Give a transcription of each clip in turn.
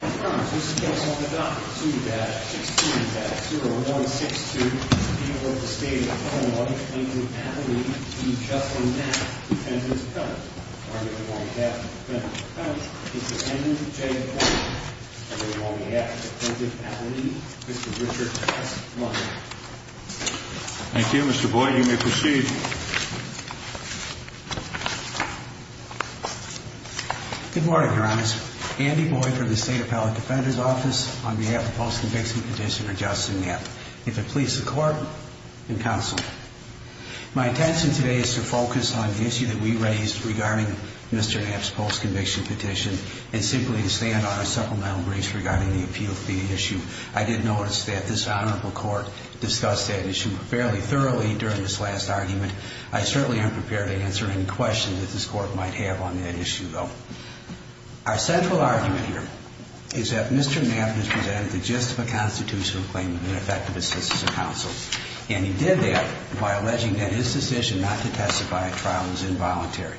this is the case on the dot. Two dash 16 dash 0162. People of the state of Oklahoma, plaintiff, Alan Lee, Chief Justice Knapp, defendant's appellant. Arguably, the one who has the defendant's appellant is defendant J. Boyd. And the one who has the plaintiff, Alan Lee, Mr. Richard S. Blunt. Thank you, Mr. Boyd. You may proceed. Good morning, Your Honor. Andy Boyd for the State Appellant Defender's Office on behalf of Post-Conviction Petitioner Justin Knapp. If it pleases the Court and Counsel. My intention today is to focus on the issue that we raised regarding Mr. Knapp's Post-Conviction Petition, and simply to stand on our supplemental briefs regarding the appeal fee issue. I did notice that this Honorable Court discussed that issue fairly thoroughly during this last argument. I certainly am prepared to answer any questions that this Court might have on that issue, though. Our central argument here is that Mr. Knapp has presented the gist of a constitutional claim that would affect the defense counsel. And he did that by alleging that his decision not to testify at trial was involuntary.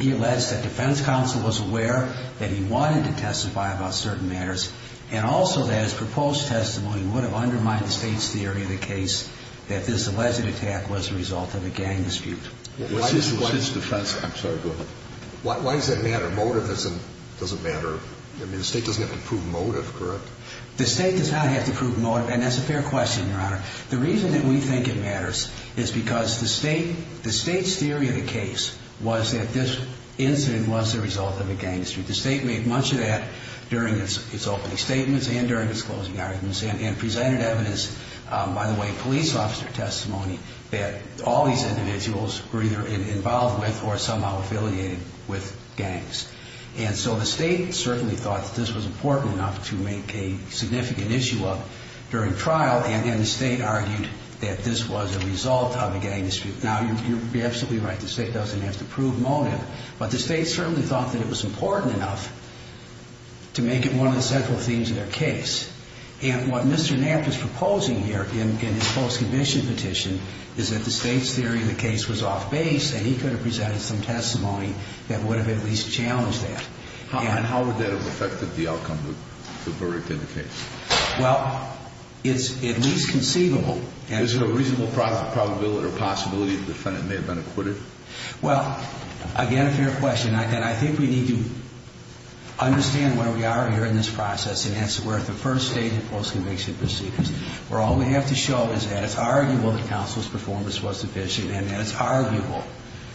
He alleged that defense counsel was aware that he wanted to testify about certain matters, and also that his proposed testimony would have undermined the State's theory of the case that this alleged attack was a result of a gang dispute. What's his defense? I'm sorry, go ahead. Why does that matter? Motivism doesn't matter. I mean, the State doesn't have to prove motive, correct? The State does not have to prove motive, and that's a fair question, Your Honor. The reason that we think it matters is because the State's theory of the case was that this incident was the result of a gang dispute. The State made much of that during its opening statements and during its closing arguments, and presented evidence, by the way, police officer testimony, that all these individuals were either involved with or somehow affiliated with gangs. And so the State certainly thought that this was important enough to make a significant issue of during trial, and then the State argued that this was a result of a gang dispute. Now, you'd be absolutely right, the State doesn't have to prove motive, but the State certainly thought that it was important enough to make it one of the central themes of their case. And what Mr. Knapp is proposing here in his post-conviction petition is that the State's theory of the case was off-base, and he could have presented some testimony that would have at least challenged that. And how would that have affected the outcome of the verdict in the case? Well, it's at least conceivable. Is there a reasonable probability or possibility the defendant may have been acquitted? Well, again, a fair question. And I think we need to understand where we are here in this process and answer where the first stage of post-conviction proceedings, where all we have to show is that it's arguable that counsel's performance was sufficient and that it's arguable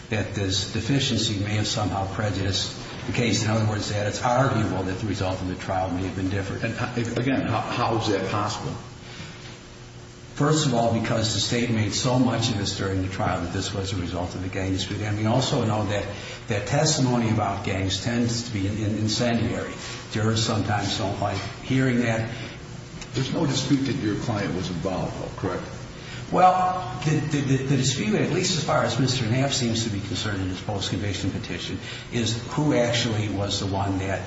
that this deficiency may have somehow prejudiced the case. In other words, that it's arguable that the result of the trial may have been different. And again, how is that possible? First of all, because the State made so much of this during the trial that this was a result of the gang dispute. And we also know that testimony about gangs tends to be an incendiary. Jurors sometimes don't like hearing that. There's no dispute that your client was involved, correct? Well, the dispute, at least as far as Mr. Knapp seems to be concerned in his post-conviction petition, is who actually was the one that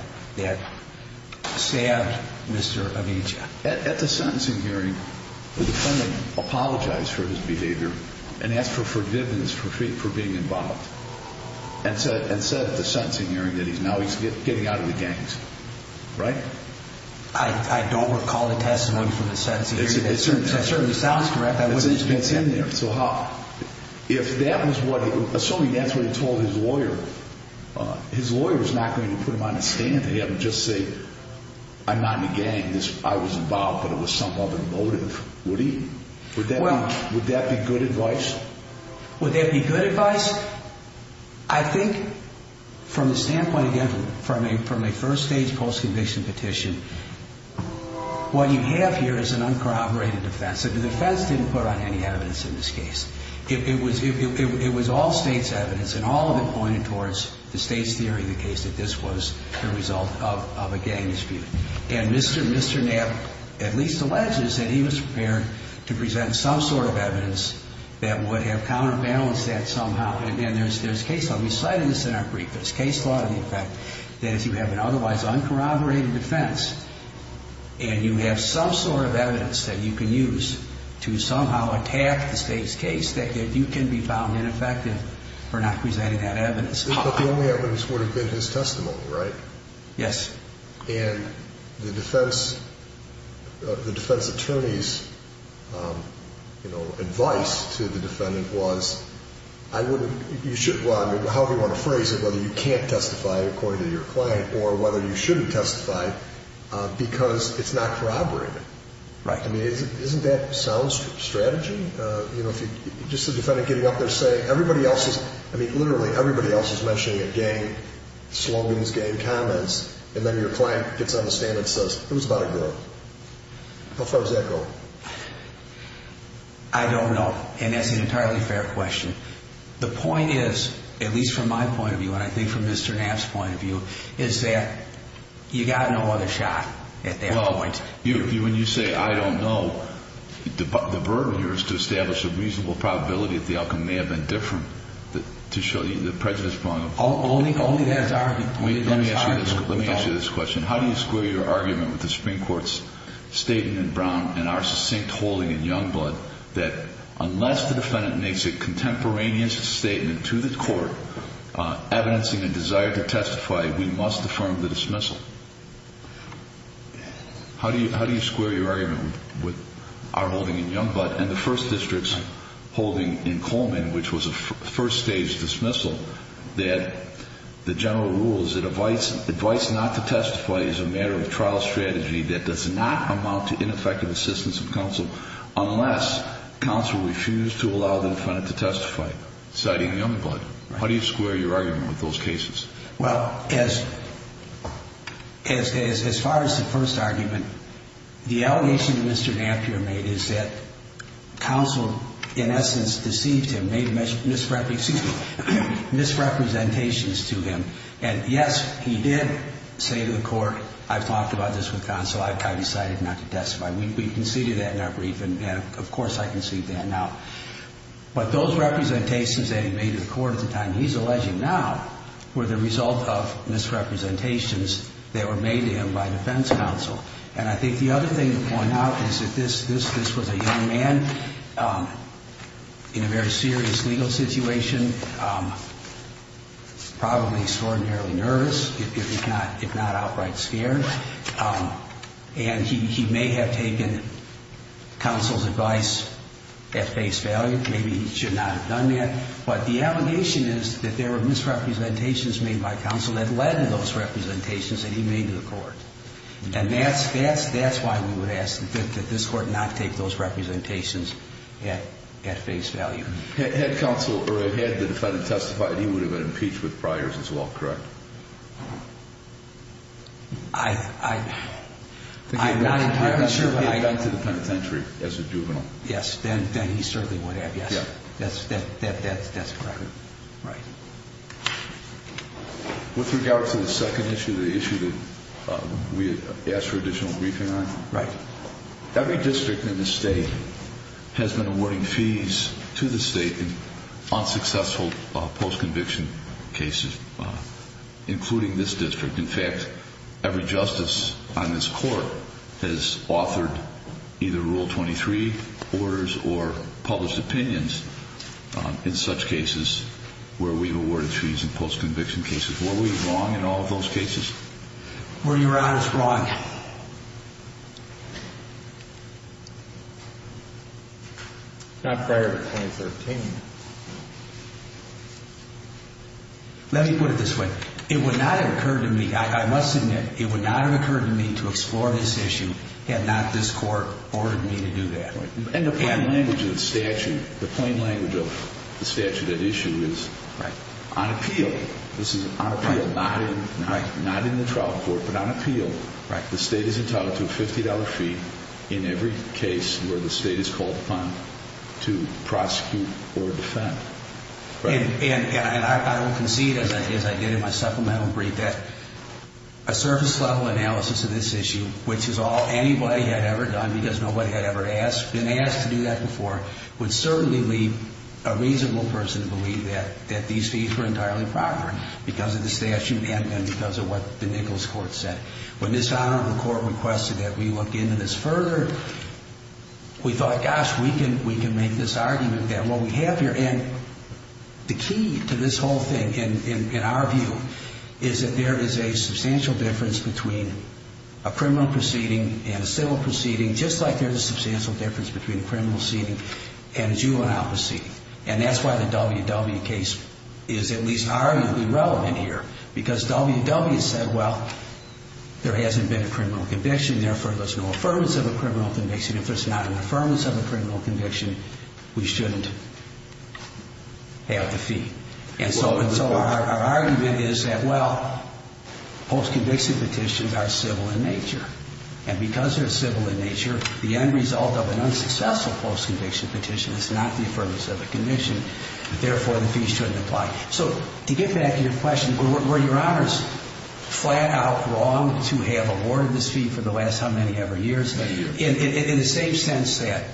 stabbed Mr. Avencia. At the sentencing hearing, the defendant apologized for his behavior and asked for forgiveness for being involved. And said at the sentencing hearing that now he's getting out of the gangs, right? I don't recall the testimony from the sentencing hearing. That certainly sounds correct. That wasn't a dispute. It's in there, so how? If that was what, assuming that's what he told his lawyer, his lawyer was not going to put him on the stand and have him just say, I'm not in a gang. I was involved, but it was some other motive. Would he? Would that be good advice? Would that be good advice? I think, from the standpoint, again, from a first-stage post-conviction petition, what you have here is an uncorroborated defense. The defense didn't put on any evidence in this case. It was all state's evidence, and all of it pointed towards the state's theory of the case that this was the result of a gang dispute. And Mr. Knapp at least alleges that he was prepared to present some sort of evidence that would have counterbalanced that somehow. And there's case law. We cited this in our brief. There's case law in the effect that if you have an otherwise uncorroborated defense, and you have some sort of evidence that you can use to somehow attack the state's case, that you can be found ineffective for not presenting that evidence. But the only evidence would have been his testimony, right? Yes. And the defense attorney's advice to the defendant was, I wouldn't, you should, well, I mean, however you want to phrase it, whether you can't testify according to your claim or whether you shouldn't testify, because it's not corroborated. Right. I mean, isn't that sound strategy? You know, just the defendant getting up there saying, everybody else is, I mean, literally, everybody else is mentioning it, gang slogans, gang comments, and then your client gets on the stand and says, it was about a girl. How far does that go? I don't know, and that's an entirely fair question. The point is, at least from my point of view, and I think from Mr. Knapp's point of view, is that you got no other shot at that point. When you say, I don't know, the burden here is to establish a reasonable probability that the outcome may have been different to show you the prejudice brought up. Only that's argued. Let me ask you this question. How do you square your argument with the Supreme Court's statement in Brown and our succinct holding in Youngblood that unless the defendant makes a contemporaneous statement to the court, evidencing a desire to testify we must affirm the dismissal? How do you square your argument with our holding in Youngblood and the First District's holding in Coleman, which was a first stage dismissal, that the general rule is that advice not to testify is a matter of trial strategy that does not amount to ineffective assistance of counsel unless counsel refused to allow the defendant to testify, citing Youngblood. How do you square your argument with those cases? Well, as far as the first argument, the allegation that Mr. Napier made is that counsel in essence deceived him, made misrepresentations to him. And yes, he did say to the court, I've talked about this with counsel, I decided not to testify. We conceded that in our brief and of course I concede that now. But those representations that he made to the court at the time he's alleging now were the result of misrepresentations that were made to him by defense counsel. And I think the other thing to point out is that this was a young man in a very serious legal situation, probably extraordinarily nervous, if not outright scared. And he may have taken counsel's advice at face value. Maybe he should not have done that. But the allegation is that there were misrepresentations made by counsel that led to those representations that he made to the court. And that's why we would ask that this court not take those representations at face value. Had counsel, or had the defendant testified, he would have been impeached with priors as well, correct? I'm not entirely sure. He had gone to the penitentiary as a juvenile. Yes, then he certainly would have, yes. That's correct. Right. With regard to the second issue, the issue that we asked for additional briefing on. Right. Every district in the state has been awarding fees to the state in unsuccessful post-conviction cases, including this district. In fact, every justice on this court has authored either Rule 23 orders or published opinions in such cases where we've awarded fees in post-conviction cases. Were we wrong in all of those cases? Were your honors wrong? Not prior to 2013. Let me put it this way. It would not have occurred to me, I must admit, it would not have occurred to me to explore this issue had not this court ordered me to do that. And the plain language of the statute, the plain language of the statute at issue is, on appeal, this is on appeal, not in the trial court, but on appeal, the state is entitled to a $50 fee in every case where the state is called upon to prosecute or defend. And I will concede, as I did in my supplemental brief, that a surface-level analysis of this issue, which is all anybody had ever done because nobody had ever been asked to do that before, would certainly leave a reasonable person to believe that these fees were entirely proper because of the statute and because of what the Nichols Court said. When this honor of the court requested that we look into this further, we thought, gosh, we can make this argument that what we have here, and the key to this whole thing, in our view, is that there is a substantial difference between a criminal proceeding and a civil proceeding, just like there's a substantial difference between a criminal proceeding and a juvenile proceeding. And that's why the W.W. case is at least arguably relevant here because W.W. said, well, there hasn't been a criminal conviction, therefore, there's no affirmance of a criminal conviction. If there's not an affirmance of a criminal conviction, we shouldn't have the fee. And so our argument is that, well, post-conviction petitions are civil in nature. And because they're civil in nature, the end result of an unsuccessful post-conviction petition is not the affirmance of a conviction, therefore, the fees shouldn't apply. So to get back to your question, were your honors flat out wrong to have awarded this fee for the last how many ever years? Many years. In the same sense that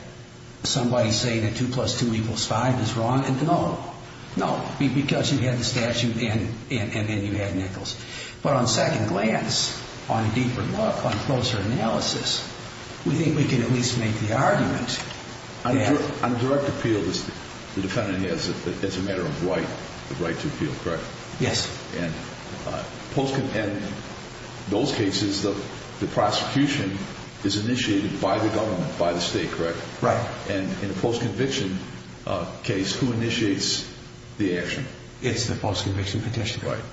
somebody saying that two plus two equals five is wrong, no. No, because you had the statute and you had Nichols. But on second glance, on a deeper look, on closer analysis, we think we can at least make the argument that. On direct appeal, the defendant has as a matter of right, the right to appeal, correct? Yes. And those cases, the prosecution is initiated by the government, by the state, correct? Right. And in a post-conviction case, who initiates the action? It's the post-conviction petition. Right.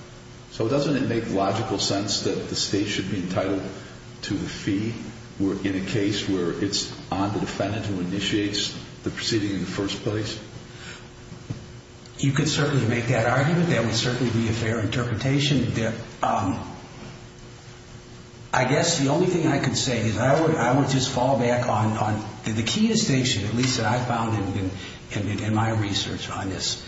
So doesn't it make logical sense that the state should be entitled to the fee in a case where it's on the defendant who initiates the proceeding in the first place? You could certainly make that argument. That would certainly be a fair interpretation. I guess the only thing I could say is I would just fall back on the key distinction, at least that I found in my research on this.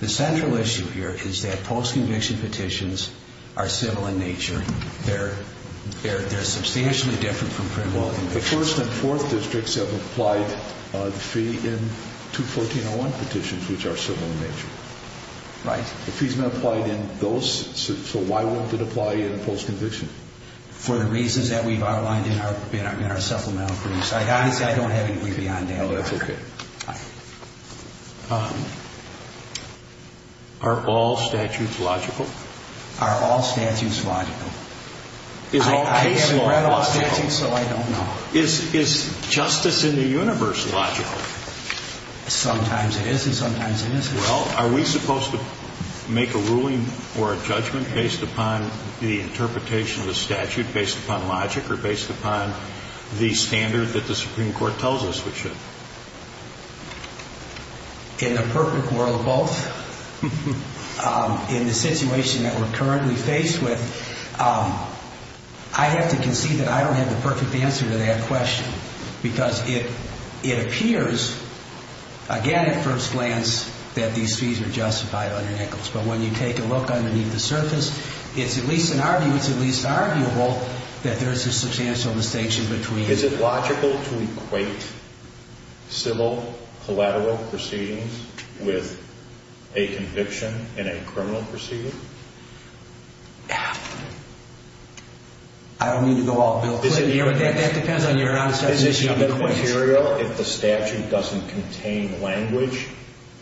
The central issue here is that post-conviction petitions are civil in nature. They're substantially different from criminal convictions. The first and fourth districts have applied the fee in 214-01 petitions, which are civil in nature. Right. The fee's not applied in those, so why won't it apply in post-conviction? For the reasons that we've outlined in our supplemental briefs. I honestly don't have anything beyond that. Oh, that's okay. Are all statutes logical? Are all statutes logical? I haven't read all statutes, so I don't know. Is justice in the universe logical? Sometimes it is, and sometimes it isn't. Well, are we supposed to make a ruling or a judgment based upon the interpretation of the statute, based upon logic, or based upon the standard that the Supreme Court tells us we should? In a perfect world, both. In the situation that we're currently faced with, I have to concede that I don't have the perfect answer to that question, because it appears, again, at first glance, that these fees are justified under Nichols. But when you take a look underneath the surface, it's at least an arguable that there's a substantial distinction between. Is it logical to equate civil collateral proceedings with a conviction in a criminal proceeding? I don't mean to go all Bill Clinton here, but that depends on your answer to the question. Is it material if the statute doesn't contain language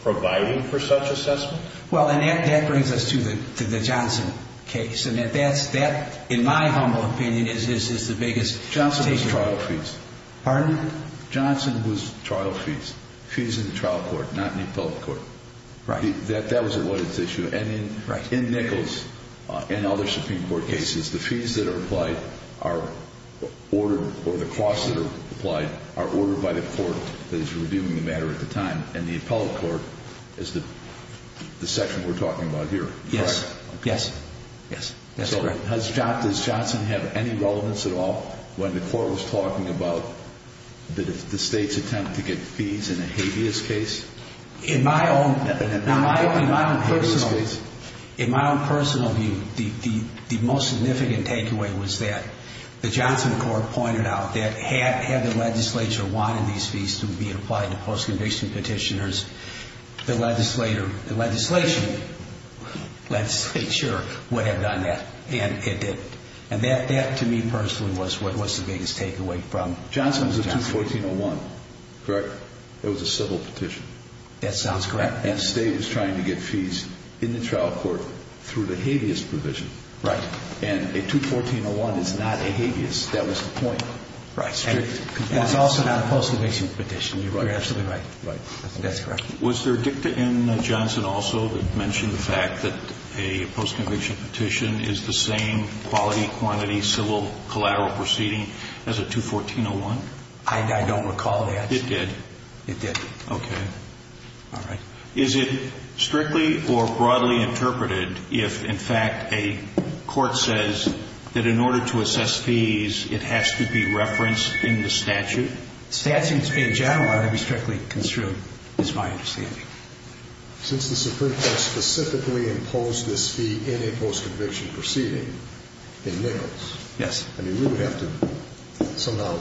provided for such assessment? Well, and that brings us to the Johnson case, and that, in my humble opinion, is the biggest. Johnson was trial fees. Pardon? Johnson was trial fees. Fees in the trial court, not in the appellate court. That was what its issue. And in Nichols and other Supreme Court cases, the fees that are applied are ordered, or the costs that are applied are ordered by the court that is reviewing the matter at the time. And the appellate court is the section we're talking about here, correct? Yes, yes, that's correct. So does Johnson have any relevance at all when the court was talking about the state's attempt to get fees in a habeas case? In my own personal view, the most significant takeaway was that the Johnson court pointed out that had the legislature wanted these fees to be applied to post-conviction petitioners, the legislature would have done that, and it didn't. And that, to me personally, was what was the biggest takeaway from Johnson. Johnson was a 214.01, correct? It was a civil petition. That sounds correct. And the state was trying to get fees in the trial court through the habeas provision. And a 214.01 is not a habeas. That was the point. And it's also not a post-conviction petition. You're absolutely right. That's correct. Was there a dicta in Johnson also that mentioned the fact that a post-conviction petition is the same quality, quantity, civil, collateral proceeding as a 214.01? I don't recall that. It did? It did. OK. Is it strictly or broadly interpreted if, in fact, a court says that in order to assess fees, it has to be referenced in the statute? Statutes in general ought to be strictly construed, is my understanding. Since the Supreme Court specifically imposed this fee in a post-conviction proceeding in Nichols, I mean, we would have to somehow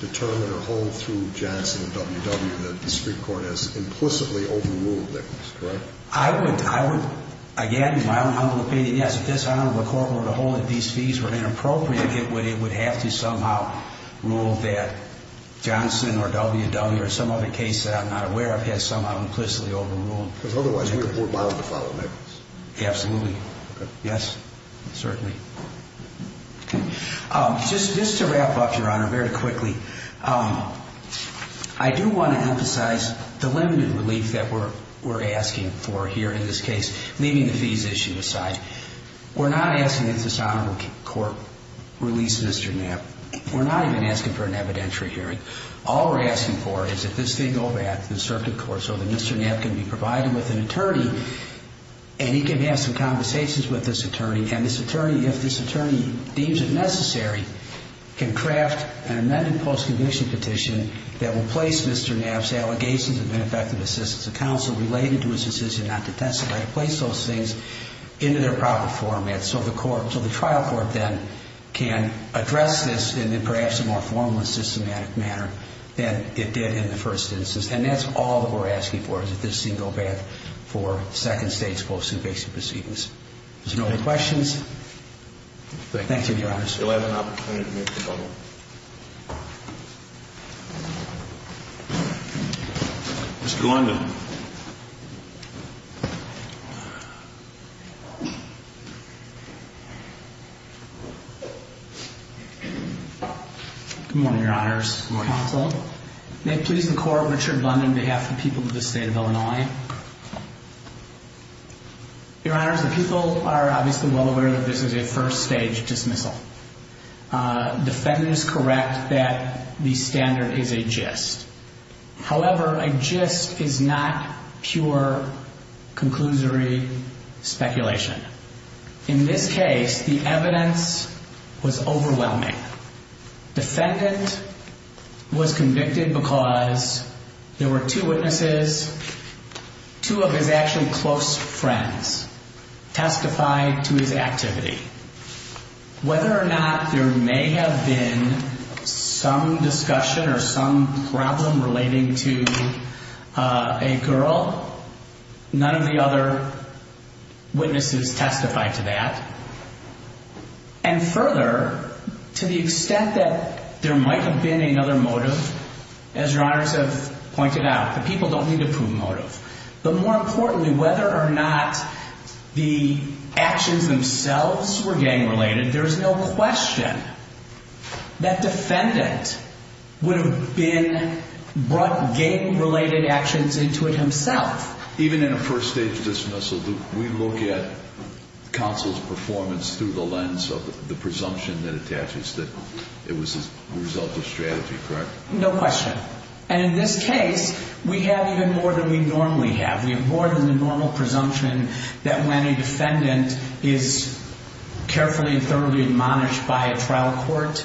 determine or hold through Johnson and WW that the Supreme Court has implicitly overruled Nichols, correct? I would, again, in my own humble opinion, yes. If this arm of the court were to hold that these fees were inappropriate, it would have to somehow rule that Johnson or WW or some other case that I'm not aware of has somehow implicitly overruled Nichols. Because otherwise, we are more bound to follow Nichols. Absolutely. Yes. Certainly. Just to wrap up, Your Honor, very quickly, I do want to emphasize the limited relief that we're asking for here in this case, leaving the fees issue aside. We're not asking that this honorable court release Mr. Knapp. We're not even asking for an evidentiary hearing. All we're asking for is that this thing go back to the circuit court so that Mr. Knapp can be provided with an attorney, and he can have some conversations with this attorney. And this attorney, if this attorney deems it necessary, can craft an amended post-conviction petition that will place Mr. Knapp's allegations of ineffective assistance of counsel related to his decision not to testify, to place those things into their proper format. So the trial court then can address this in perhaps a more formal and systematic manner than it did in the first instance. And that's all that we're asking for, is that this thing go back for second state's post-conviction proceedings. If there's no other questions, thank you, Your Honors. Thank you. You'll have an opportunity to make your comment. Mr. London. Good morning, Your Honors. Good morning. Counsel. May it please the court, Richard London, on behalf of the people of the state of Illinois. Your Honors, the people are obviously well aware that this is a first stage dismissal. Defendant is correct that the standard is a gist. However, a gist is not pure, conclusory speculation. In this case, the evidence was overwhelming. Defendant was convicted because there were two witnesses, two of his actually close friends, testified to his activity. Whether or not there may have been some discussion or some problem relating to a girl, none of the other witnesses testified to that. And further, to the extent that there might have been another motive, as Your Honors have pointed out, the people don't need a prove motive. But more importantly, whether or not the actions themselves were gang related, there's no question that defendant would have brought gang related actions into it himself. Even in a first stage dismissal, we look at counsel's performance through the lens of the presumption that attaches that it was a result of strategy, correct? No question. And in this case, we have even more than we normally have. We have more than the normal presumption that when a defendant is carefully and thoroughly admonished by a trial court,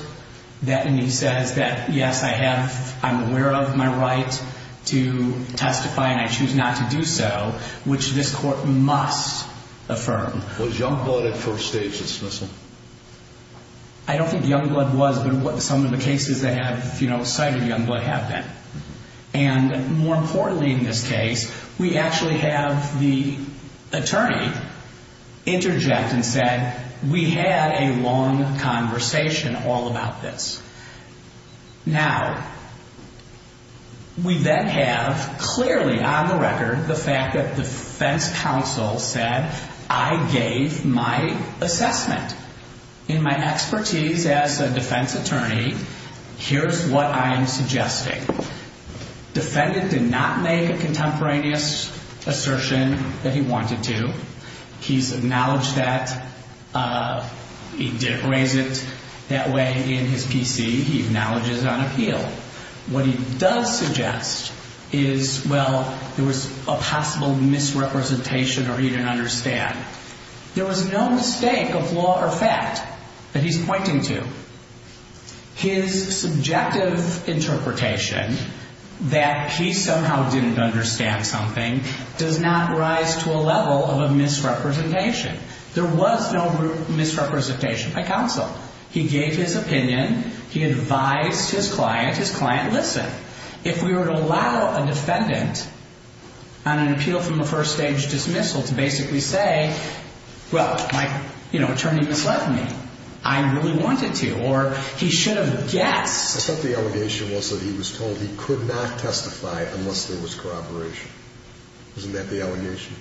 that he says that, yes, I have, I'm aware of my right to testify, and I choose not to do so, which this court must affirm. Was Youngblood at first stage dismissal? I don't think Youngblood was, but some of the cases that have cited Youngblood have been. And more importantly in this case, we actually have the attorney interject and said, we had a long conversation all about this. Now, we then have clearly on the record the fact that defense counsel said, I gave my assessment. In my expertise as a defense attorney, here's what I'm suggesting. Defendant did not make a contemporaneous assertion that he wanted to. He's acknowledged that. He didn't raise it that way in his PC. He acknowledges it on appeal. What he does suggest is, well, there was a possible misrepresentation or he didn't understand. There was no mistake of law or fact that he's pointing to. His subjective interpretation that he somehow didn't understand something does not rise to a level of a misrepresentation. There was no misrepresentation by counsel. He gave his opinion. He advised his client. His client listened. If we were to allow a defendant on an appeal from a first-stage dismissal to basically say, well, my attorney misled me. I really wanted to. Or he should have guessed. I thought the allegation was that he was told he could not testify unless there was corroboration. Isn't that the allegation?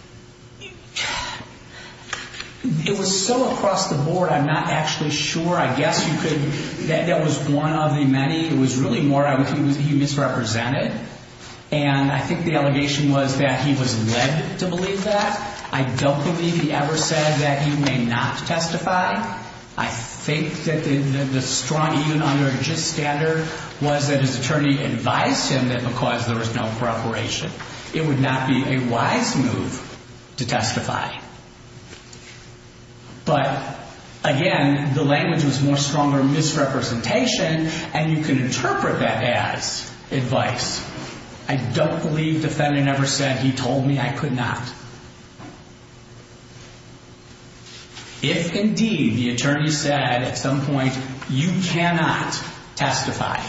It was so across the board, I'm not actually sure. I guess you could, that was one of the many. It was really more he misrepresented. And I think the allegation was that he was led to believe that. I don't believe he ever said that he may not testify. I think that the strong, even under a just standard, was that his attorney advised him that because there was no corroboration. It would not be a wise move to testify. But again, the language was more stronger misrepresentation. And you can interpret that as advice. I don't believe the defendant ever said, he told me I could not. If, indeed, the attorney said at some point, you cannot testify,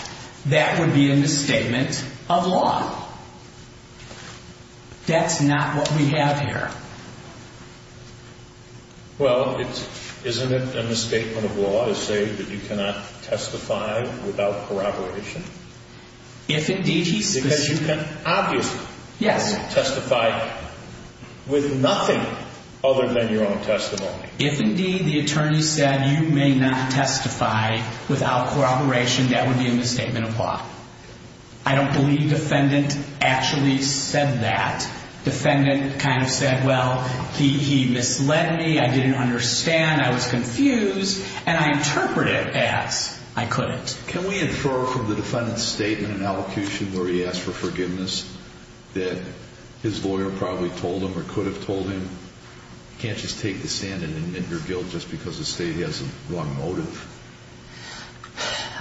that would be a misstatement of law. That's not what we have here. Well, isn't it a misstatement of law to say that you cannot testify without corroboration? If, indeed, he specifically. Because you can, obviously, testify with nothing other than your own testimony. If, indeed, the attorney said you may not testify without corroboration, that would be a misstatement of law. I don't believe defendant actually said that. Defendant kind of said, well, he misled me. I didn't understand. I was confused. And I interpret it as, I couldn't. Can we infer from the defendant's statement in elocution where he asked for forgiveness that his lawyer probably told him or could have told him, you can't just take this in and admit your guilt just because the state has a wrong motive?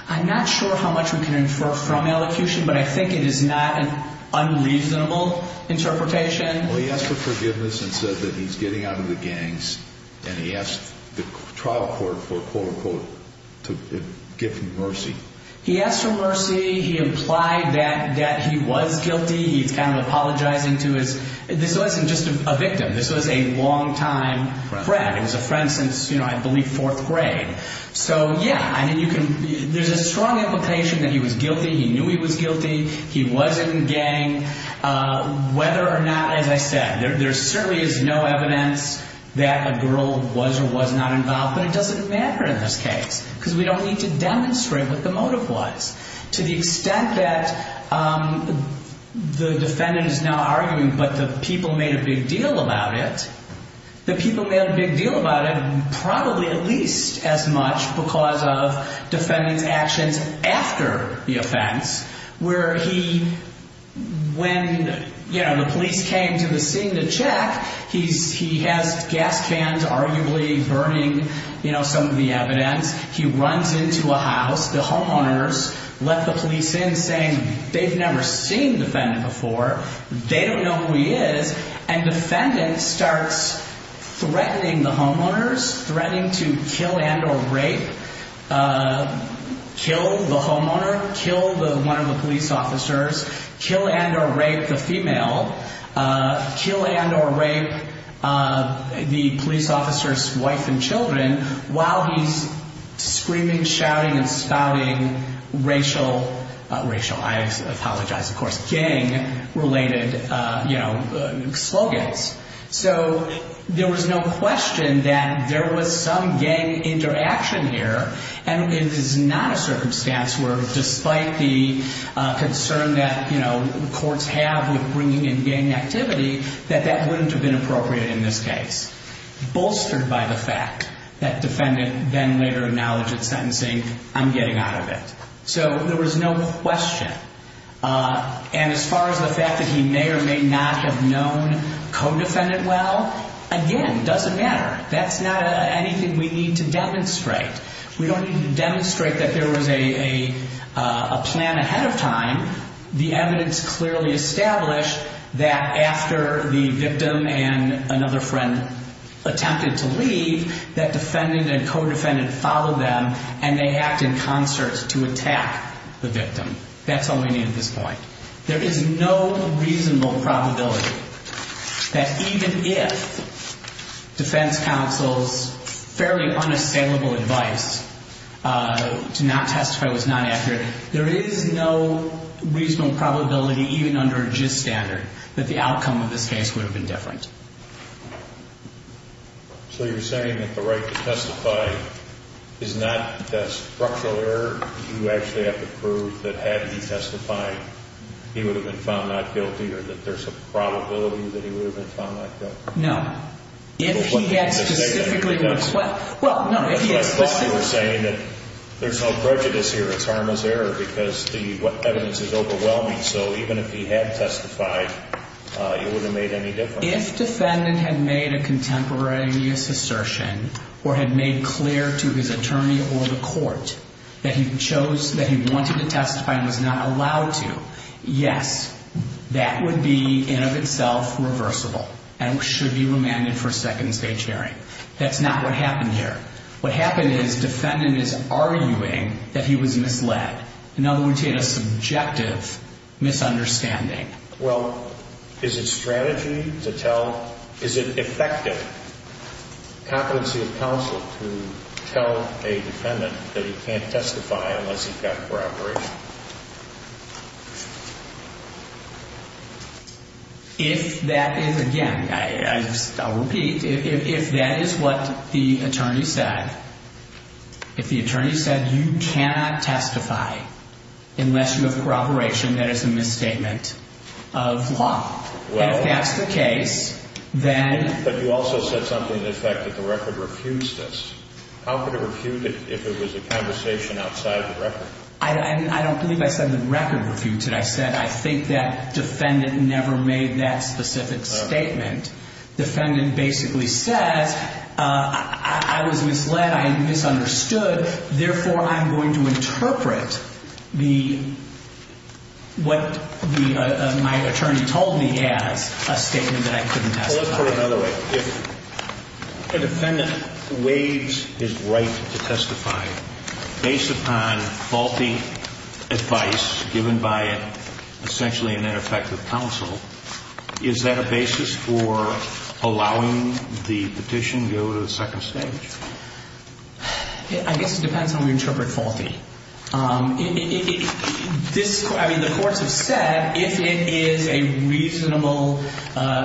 I'm not sure how much we can infer from elocution. But I think it is not an unreasonable interpretation. Well, he asked for forgiveness and said that he's getting out of the gangs. And he asked the trial court for, quote, unquote, to give him mercy. He asked for mercy. He implied that he was guilty. He's kind of apologizing to his, this wasn't just a victim. This was a longtime friend. It was a friend since, I believe, fourth grade. So yeah, there's a strong implication that he was guilty. He knew he was guilty. He was in a gang. Whether or not, as I said, there certainly is no evidence that a girl was or was not involved. But it doesn't matter in this case because we don't need to demonstrate what the motive was. To the extent that the defendant is now arguing, but the people made a big deal about it, the people made a big deal about it probably at least as much because of defendant's actions after the offense where he, when the police came to the scene to check, he has gas cans arguably burning some of the evidence. He runs into a house. The homeowners let the police in saying, they've never seen defendant before. They don't know who he is. And defendant starts threatening the homeowners, threatening to kill and or rape, kill the homeowner, kill one of the police officers, kill and or rape the female, kill and or rape the police officer's wife and children while he's screaming, shouting, and scowling racial, racial, I apologize, of course, gang related slogans. So there was no question that there was some gang interaction here. And it is not a circumstance where despite the concern that the courts have with bringing in gang activity, that that wouldn't have been appropriate in this case. Bolstered by the fact that defendant then later acknowledged at sentencing, I'm getting out of it. So there was no question. And as far as the fact that he may or may not have known co-defendant well, again, doesn't matter. That's not anything we need to demonstrate. We don't need to demonstrate that there was a plan ahead of time. The evidence clearly established that after the victim and another friend attempted to leave, that defendant and co-defendant followed them and they acted in concert to attack the victim. That's all we need at this point. There is no reasonable probability that even if defense counsel's fairly unassailable advice to not testify was not accurate, there is no reasonable probability, even under a JIST standard, that the outcome of this case would have been different. So you're saying that the right to testify is not a structural error? You actually have to prove that had he testified, he would have been found not guilty or that there's a probability that he would have been found not guilty? No. If he had specifically requested. Well, no. If he had specifically. I thought you were saying that there's no prejudice here. It's harmless error because the evidence is overwhelming. So even if he had testified, it would have made any difference. If defendant had made a contemporaneous assertion or had made clear to his attorney or the court that he chose, that he wanted to testify and was not allowed to, yes, that would be, in of itself, reversible and should be remanded for a second stage hearing. That's not what happened here. What happened is defendant is arguing that he was misled. In other words, he had a subjective misunderstanding. Well, is it strategy to tell? Is it effective? Competency of counsel to tell a defendant that he can't testify unless he's got corroboration? If that is, again, I'll repeat, if that is what the attorney said, if the attorney said you cannot testify unless you have corroboration, that is a misstatement of law. If that's the case, then. But you also said something to the effect that the record refutes this. How could it refute it if it was a conversation outside the record? I don't believe I said the record refutes it. I said I think that defendant never made that specific statement. Defendant basically says, I was misled, I misunderstood, therefore I'm going to interpret what my attorney told me as a statement that I couldn't testify. Well, let's put it another way. If a defendant waives his right to testify based upon faulty advice given by essentially an ineffective counsel, is that a basis for allowing the petition to go to the second stage? I guess it depends on how we interpret faulty. This, I mean, the courts have said that if it is a reasonable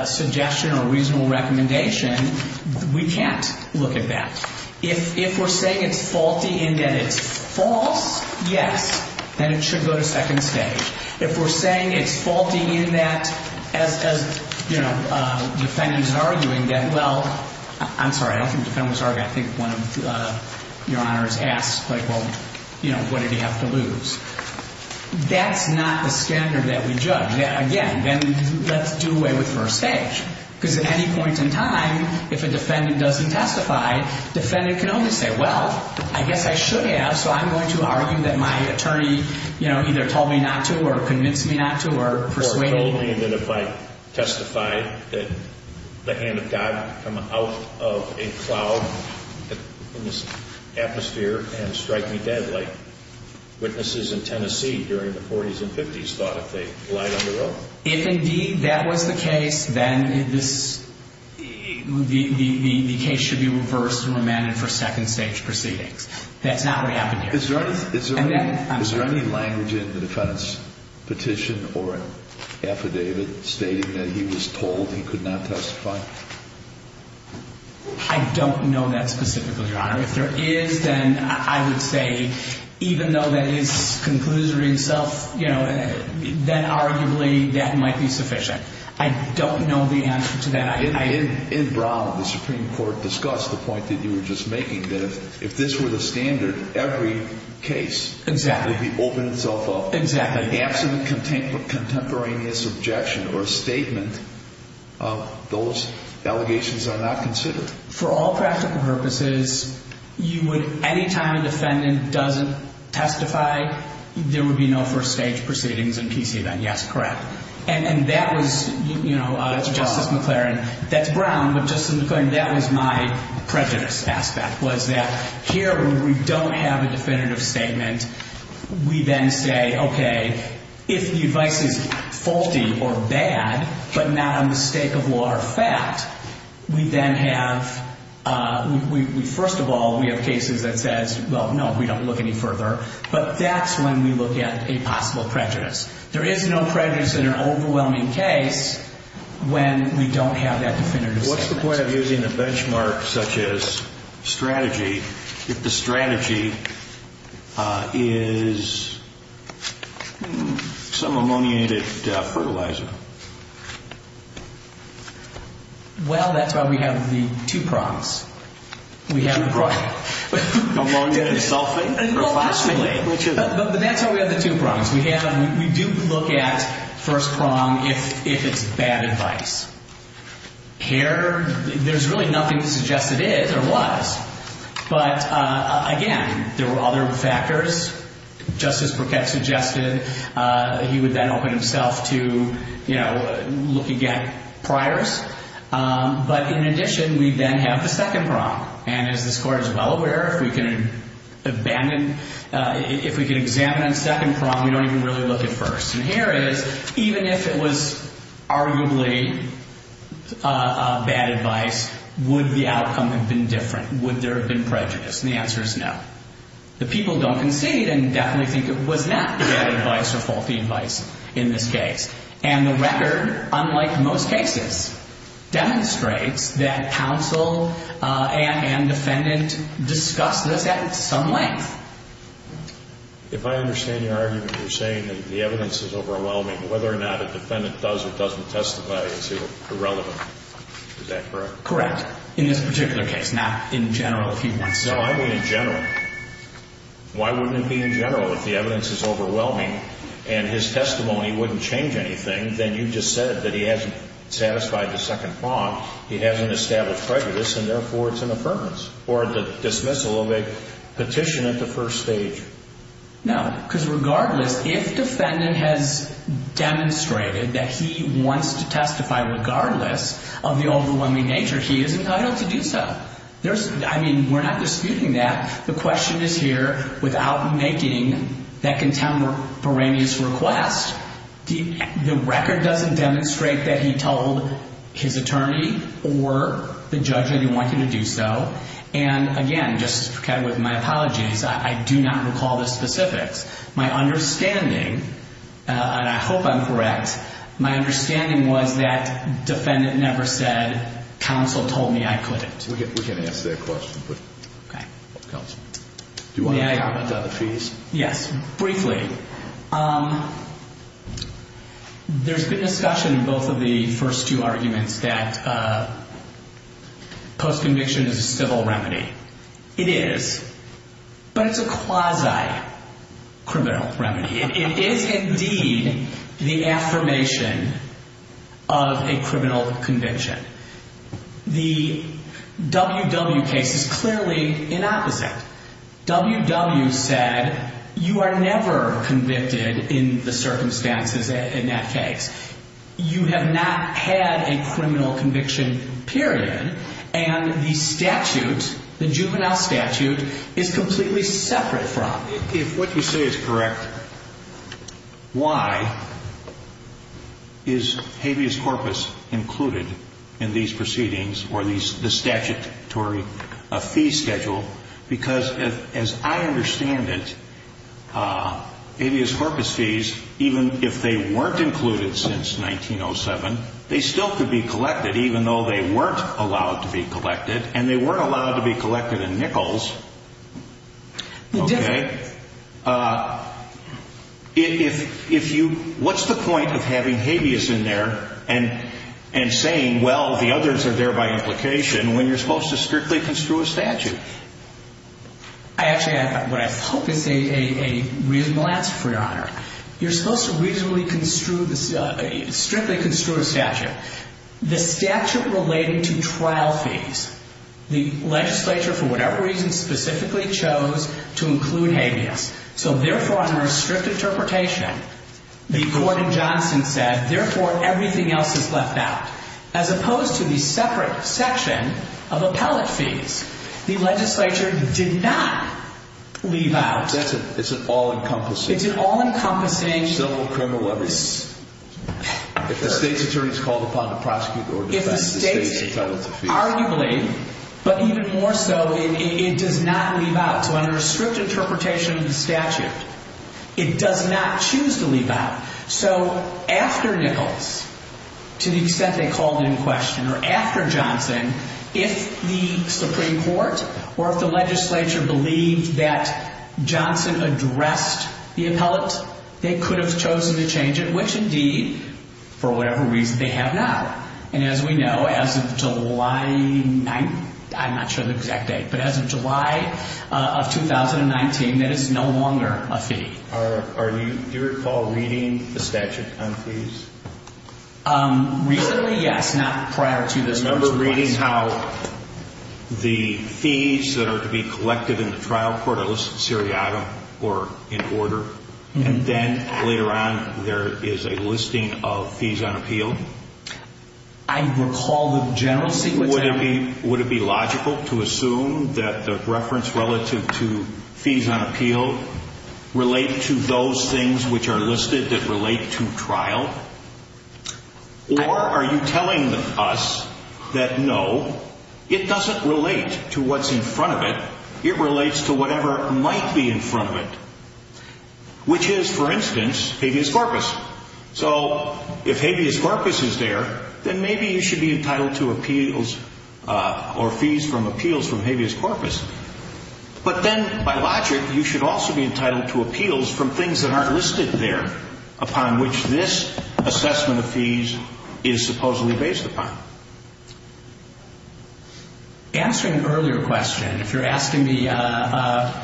suggestion or a reasonable recommendation, we can't look at that. If we're saying it's faulty and that it's false, yes, then it should go to second stage. If we're saying it's faulty in that as defendant is arguing that, well, I'm sorry, I don't think defendant was arguing. I think one of your honors asked, like, well, what did he have to lose? That's not the standard that we judge. Again, then let's do away with first stage. Because at any point in time, if a defendant doesn't testify, defendant can only say, well, I guess I should have, so I'm going to argue that my attorney either told me not to or convinced me not to or persuaded me. Or told me that if I testified that the hand of God come out of a cloud in this atmosphere and strike me dead like witnesses in Tennessee during the 40s and 50s thought if they lied on the road. If indeed that was the case, then the case should be reversed and remanded for second stage proceedings. That's not what happened here. Is there any language in the defense petition or affidavit stating that he was told he could not testify? I don't know that specifically, Your Honor. If there is, then I would say, even though that is conclusory itself, then arguably, that might be sufficient. I don't know the answer to that. In Brown, the Supreme Court discussed the point that you were just making, that if this were the standard, every case would be open itself up. Exactly. An absolute contemporaneous objection or statement of those allegations are not considered. For all practical purposes, you would, any time a defendant doesn't testify, there would be no first stage proceedings in PC event. Yes, correct. And that was Justice McLaren. That's Brown, but Justice McClain, that was my prejudice aspect, was that here, when we don't have a definitive statement, we then say, OK, if the advice is faulty or bad, but not on the stake of law or fact, we then have, first of all, we have cases that says, well, no, we don't look any further. But that's when we look at a possible prejudice. There is no prejudice in an overwhelming case when we don't have that definitive statement. What's the point of using a benchmark such as strategy if the strategy is some ammoniated fertilizer? Well, that's why we have the two prongs. We have the prong. Two prong? Ammoniated sulfate? Professionally? Well, actually. But that's why we have the two prongs. We do look at first prong if it's bad advice. Here, there's really nothing to suggest it is or was. But again, there were other factors. Justice Burkett suggested he would then put himself to look at priors. But in addition, we then have the second prong. And as this Court is well aware, if we can examine on second prong, we don't even really look at first. And here it is. Even if it was arguably bad advice, would the outcome have been different? Would there have been prejudice? And the answer is no. The people don't concede and definitely think it was not bad advice or faulty advice. In this case. And the record, unlike most cases, demonstrates that counsel and defendant discussed this at some length. If I understand your argument, you're saying that the evidence is overwhelming. Whether or not a defendant does or doesn't testify is irrelevant. Is that correct? Correct. In this particular case. Not in general, if you want to say. No, I mean in general. Why wouldn't it be in general if the evidence is wouldn't change anything, then you just said that he hasn't satisfied the second prong. He hasn't established prejudice. And therefore, it's an affirmance. Or the dismissal of a petition at the first stage. No, because regardless, if defendant has demonstrated that he wants to testify, regardless of the overwhelming nature, he is entitled to do so. I mean, we're not disputing that. The question is here, without making that contemporaneous request, the record doesn't demonstrate that he told his attorney or the judge that he wanted to do so. And again, just with my apologies, I do not recall the specifics. My understanding, and I hope I'm correct, my understanding was that defendant never said counsel told me I couldn't. We can answer that question. Okay. Counsel. Do you want to comment on the fees? Yes, briefly. There's been discussion in both of the first two arguments that post-conviction is a civil remedy. It is. But it's a quasi-criminal remedy. It is, indeed, the affirmation of a criminal conviction. The W.W. case is clearly the opposite. W.W. said you are never convicted in the circumstances in that case. You have not had a criminal conviction, period. And the statute, the juvenile statute, is completely separate from it. If what you say is correct, why is habeas corpus included in these proceedings or the statutory fee schedule because, as I understand it, habeas corpus fees, even if they weren't included since 1907, they still could be collected even though they weren't allowed to be collected. And they weren't allowed to be collected in Nichols. Okay. What's the point of having habeas in there and saying, well, the others are there by implication when you're supposed to strictly construe a statute? Actually, what I hope is a reasonable answer for your honor. You're supposed to reasonably construe, strictly construe a statute. The statute relating to trial fees, the legislature, for whatever reason, specifically chose to include habeas. So, therefore, under a strict interpretation, the court in Johnson said, therefore, everything else is left out. As opposed to the separate section of appellate fees. The legislature did not leave out... It's an all-encompassing... It's an all-encompassing... Civil, criminal, whether it's... If the state's attorney is called upon to prosecute or defend, the state is entitled to fees. Arguably, but even more so, it does not leave out. So under a strict interpretation of the statute, it does not choose to leave out. So, after Nichols, to the extent they called in question, or after Johnson, if the Supreme Court or if the legislature believed that Johnson addressed the appellate, they could have chosen to change it, which indeed, for whatever reason, they have not. And as we know, as of July... I'm not sure of the exact date, but as of July of 2019, that is no longer a fee. Do you recall reading the statute on fees? Recently, yes. Not prior to this... Do you remember reading how the fees that are to be collected in the trial court are listed seriatim or in order? And then, later on, there is a listing of fees on appeal? I recall the general sequence... Would it be logical to assume that the reference relative to fees on appeal relate to those things which are listed that relate to trial? Or are you telling us that, no, it doesn't relate to what's in front of it, it relates to whatever might be in front of it? Which is, for instance, habeas corpus. So, if habeas corpus is there, then maybe you should be entitled to appeals or fees from appeals from habeas corpus. But then, by logic, you should also be entitled to appeals from things that aren't listed there upon which this assessment of fees is supposedly based upon. Answering an earlier question, if you're asking me, do I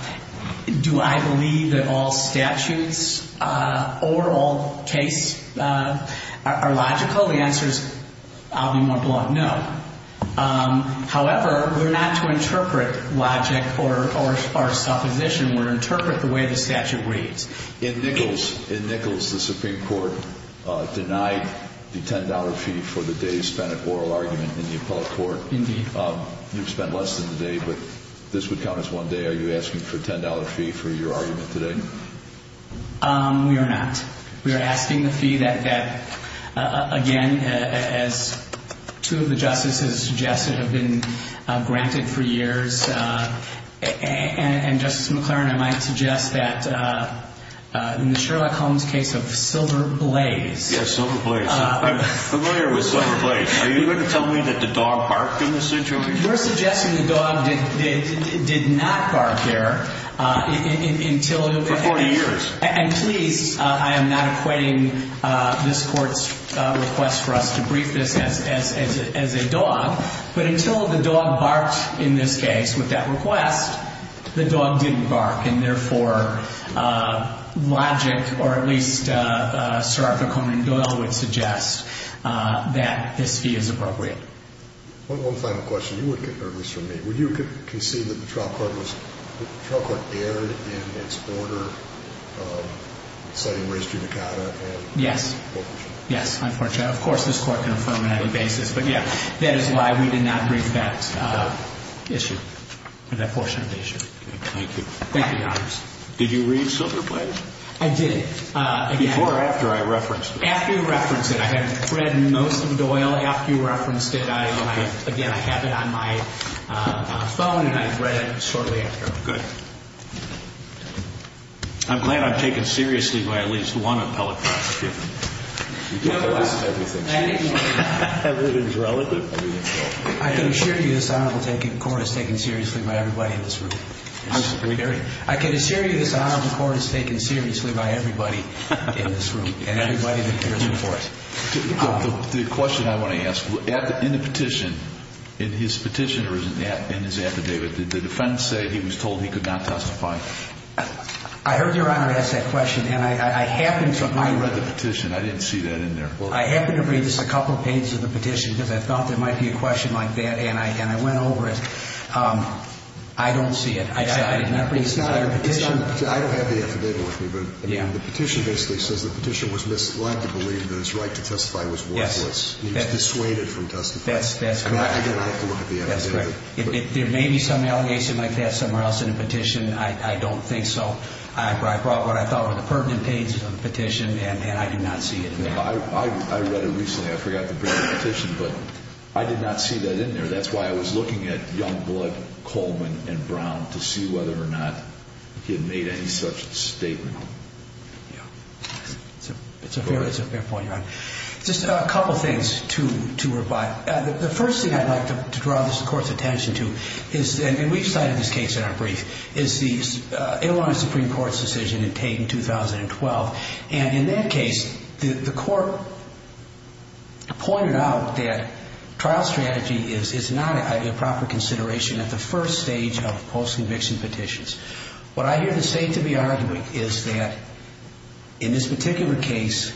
believe that all statutes or all cases are logical, the answer is, I'll be more blunt, no. However, we're not to interpret logic or supposition, we're to interpret the way the statute reads. In Nichols, the Supreme Court denied the $10 fee for the day spent at oral argument in the appellate court. Indeed. You've spent less than the day, but this would count as one day. Are you asking for a $10 fee for your argument today? We are not. We are asking the fee that, again, as two of the justices suggested have been granted for years, and Justice McLaren, I might suggest that in the Sherlock Holmes case of Silver Blaze... Yes, Silver Blaze. I'm familiar with Silver Blaze. Are you going to tell me that the dog barked in this situation? You're suggesting the dog did not bark there until... For 40 years. And please, I am not acquitting this court's request for us to brief this as a dog, but until the dog barked in this case with that request, the dog didn't bark. And therefore, logic, or at least Sir Arthur Conan Doyle would suggest that this fee is appropriate. One final question. You wouldn't get nervous from me. Would you concede that the trial court was... The trial court erred in its order citing race judicata? Yes. Yes, unfortunately. Of course, this court can affirm it on any basis. But yeah, that is why we did not brief that issue. That portion of the issue. Thank you. Thank you, Your Honor. Did you read Silver Blaze? I did. Before or after I referenced it? After you referenced it. I have read most of Doyle. After you referenced it, I... Again, I have it on my phone, and I read it shortly after. Good. I'm glad I'm taken seriously by at least one appellate prosecutor. I can assure you this Honorable Court is taken seriously by everybody in this room. I disagree. I can assure you this Honorable Court is taken seriously by everybody in this room and everybody that appears before us. The question I want to ask, in the petition, in his petition or in his affidavit, did the defense say he was told he could not testify? I heard Your Honor ask that question, and I happened to... I read the petition. I didn't see that in there. I happened to read just a couple pages of the petition because I thought there might be a question like that, and I went over it. I don't see it. I did not read the entire petition. I don't have the affidavit with me, but the petition basically says the petition was misled to believe that his right to testify was worthless. Yes. He was dissuaded from testifying. That's correct. Again, I have to look at the affidavit. That's correct. If there may be some allegation like that somewhere else in the petition, I don't think so. I brought what I thought were the pertinent pages of the petition, and I did not see it in there. I read it recently. I forgot to bring the petition, but I did not see that in there. That's why I was looking at Youngblood, Coleman, and Brown to see whether or not he had made any such statement. It's a fair point, Your Honor. Just a couple things to revive. The first thing I'd like to draw this Court's attention to is, and we've cited this case in our brief, is the Illinois Supreme Court's decision in Tate in 2012. In that case, the Court pointed out that trial strategy is not a proper consideration at the first stage of post-conviction petitions. What I hear the State to be arguing is that in this particular case,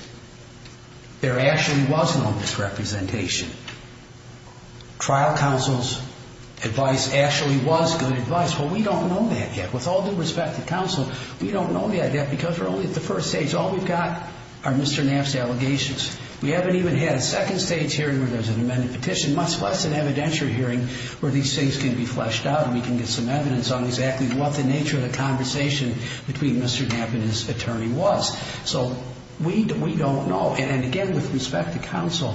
there actually was no misrepresentation. Trial counsel's advice actually was good advice. We don't know that yet. With all due respect to counsel, we don't know that yet because we're only at the first stage. All we've got are Mr. Knapp's allegations. We haven't even had a second stage hearing where there's an amended petition, much less an evidentiary hearing where these things can be fleshed out and we can get some evidence on exactly what the nature of the conversation between Mr. Knapp and his attorney was. We don't know. Again, with respect to counsel,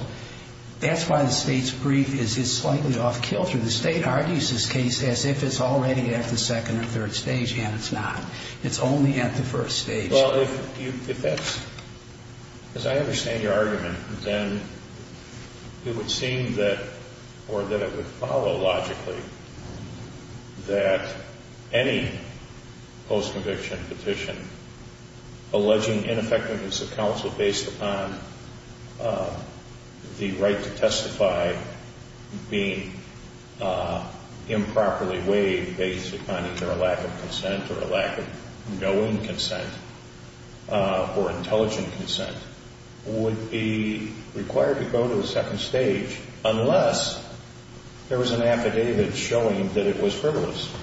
that's why the State's brief is slightly off-kilter. The State argues this case as if it's already at the second or third stage, and it's not. It's only at the first stage. Well, if that's... As I understand your argument, then it would seem that, or that it would follow logically, that any post-conviction petition alleging ineffectiveness of counsel based upon the right to testify being improperly waived based upon either a lack of consent or a lack of knowing consent or intelligent consent would be required to go to the second stage unless there was an affidavit showing that it was frivolous.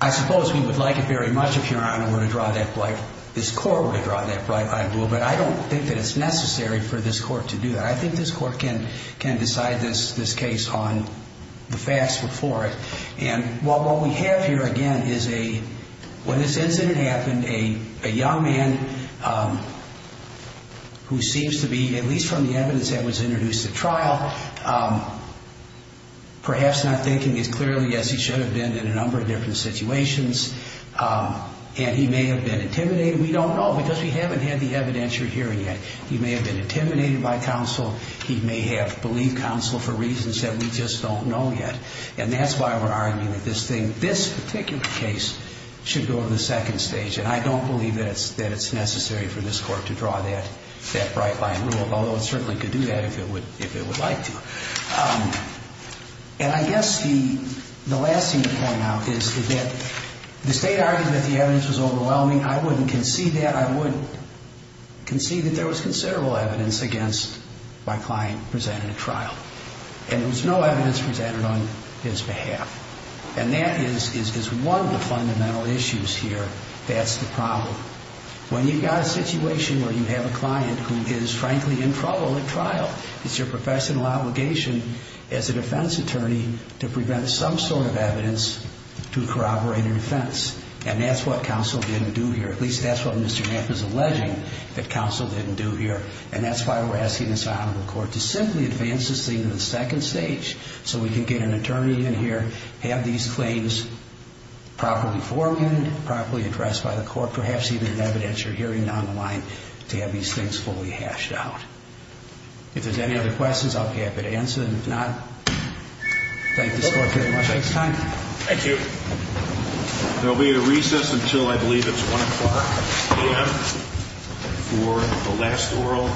I suppose we would like it very much if Your Honor were to draw that bright... if this Court were to draw that bright-eyed rule, but I don't think that it's necessary for this Court to do that. I think this Court can decide this case on the facts before it. And what we have here, again, is a... When this incident happened, a young man who seems to be, at least from the evidence that was introduced at trial, perhaps not thinking as clearly as he should have been in a number of different situations, and he may have been intimidated. We don't know because we haven't had the evidence you're hearing yet. He may have been intimidated by counsel. He may have believed counsel for reasons that we just don't know yet. And that's why we're arguing that this thing, this particular case, should go to the second stage. And I don't believe that it's necessary for this Court to draw that bright-eyed rule, although it certainly could do that if it would like to. And I guess the last thing to point out is that the State argued that the evidence was overwhelming. I wouldn't concede that. I would concede that there was considerable evidence against my client presented at trial. And there was no evidence presented on his behalf. And that is one of the fundamental issues here. That's the problem. When you've got a situation where you have a client who is, frankly, in trouble at trial, it's your professional obligation as a defense attorney to prevent some sort of evidence to corroborate a defense. And that's what counsel didn't do here. At least that's what Mr. Knapp is alleging that counsel didn't do here. And that's why we're asking this Honorable Court to simply advance this thing to the second stage so we can get an attorney in here have these claims properly forewarned, properly addressed by the Court, perhaps even evidence you're hearing down the line to have these things fully hashed out. If there's any other questions, I'll be happy to answer them. If not, thank this Court very much. Thanks, Tom. Thank you. There will be a recess until, I believe, it's 1 o'clock a.m. for the last oral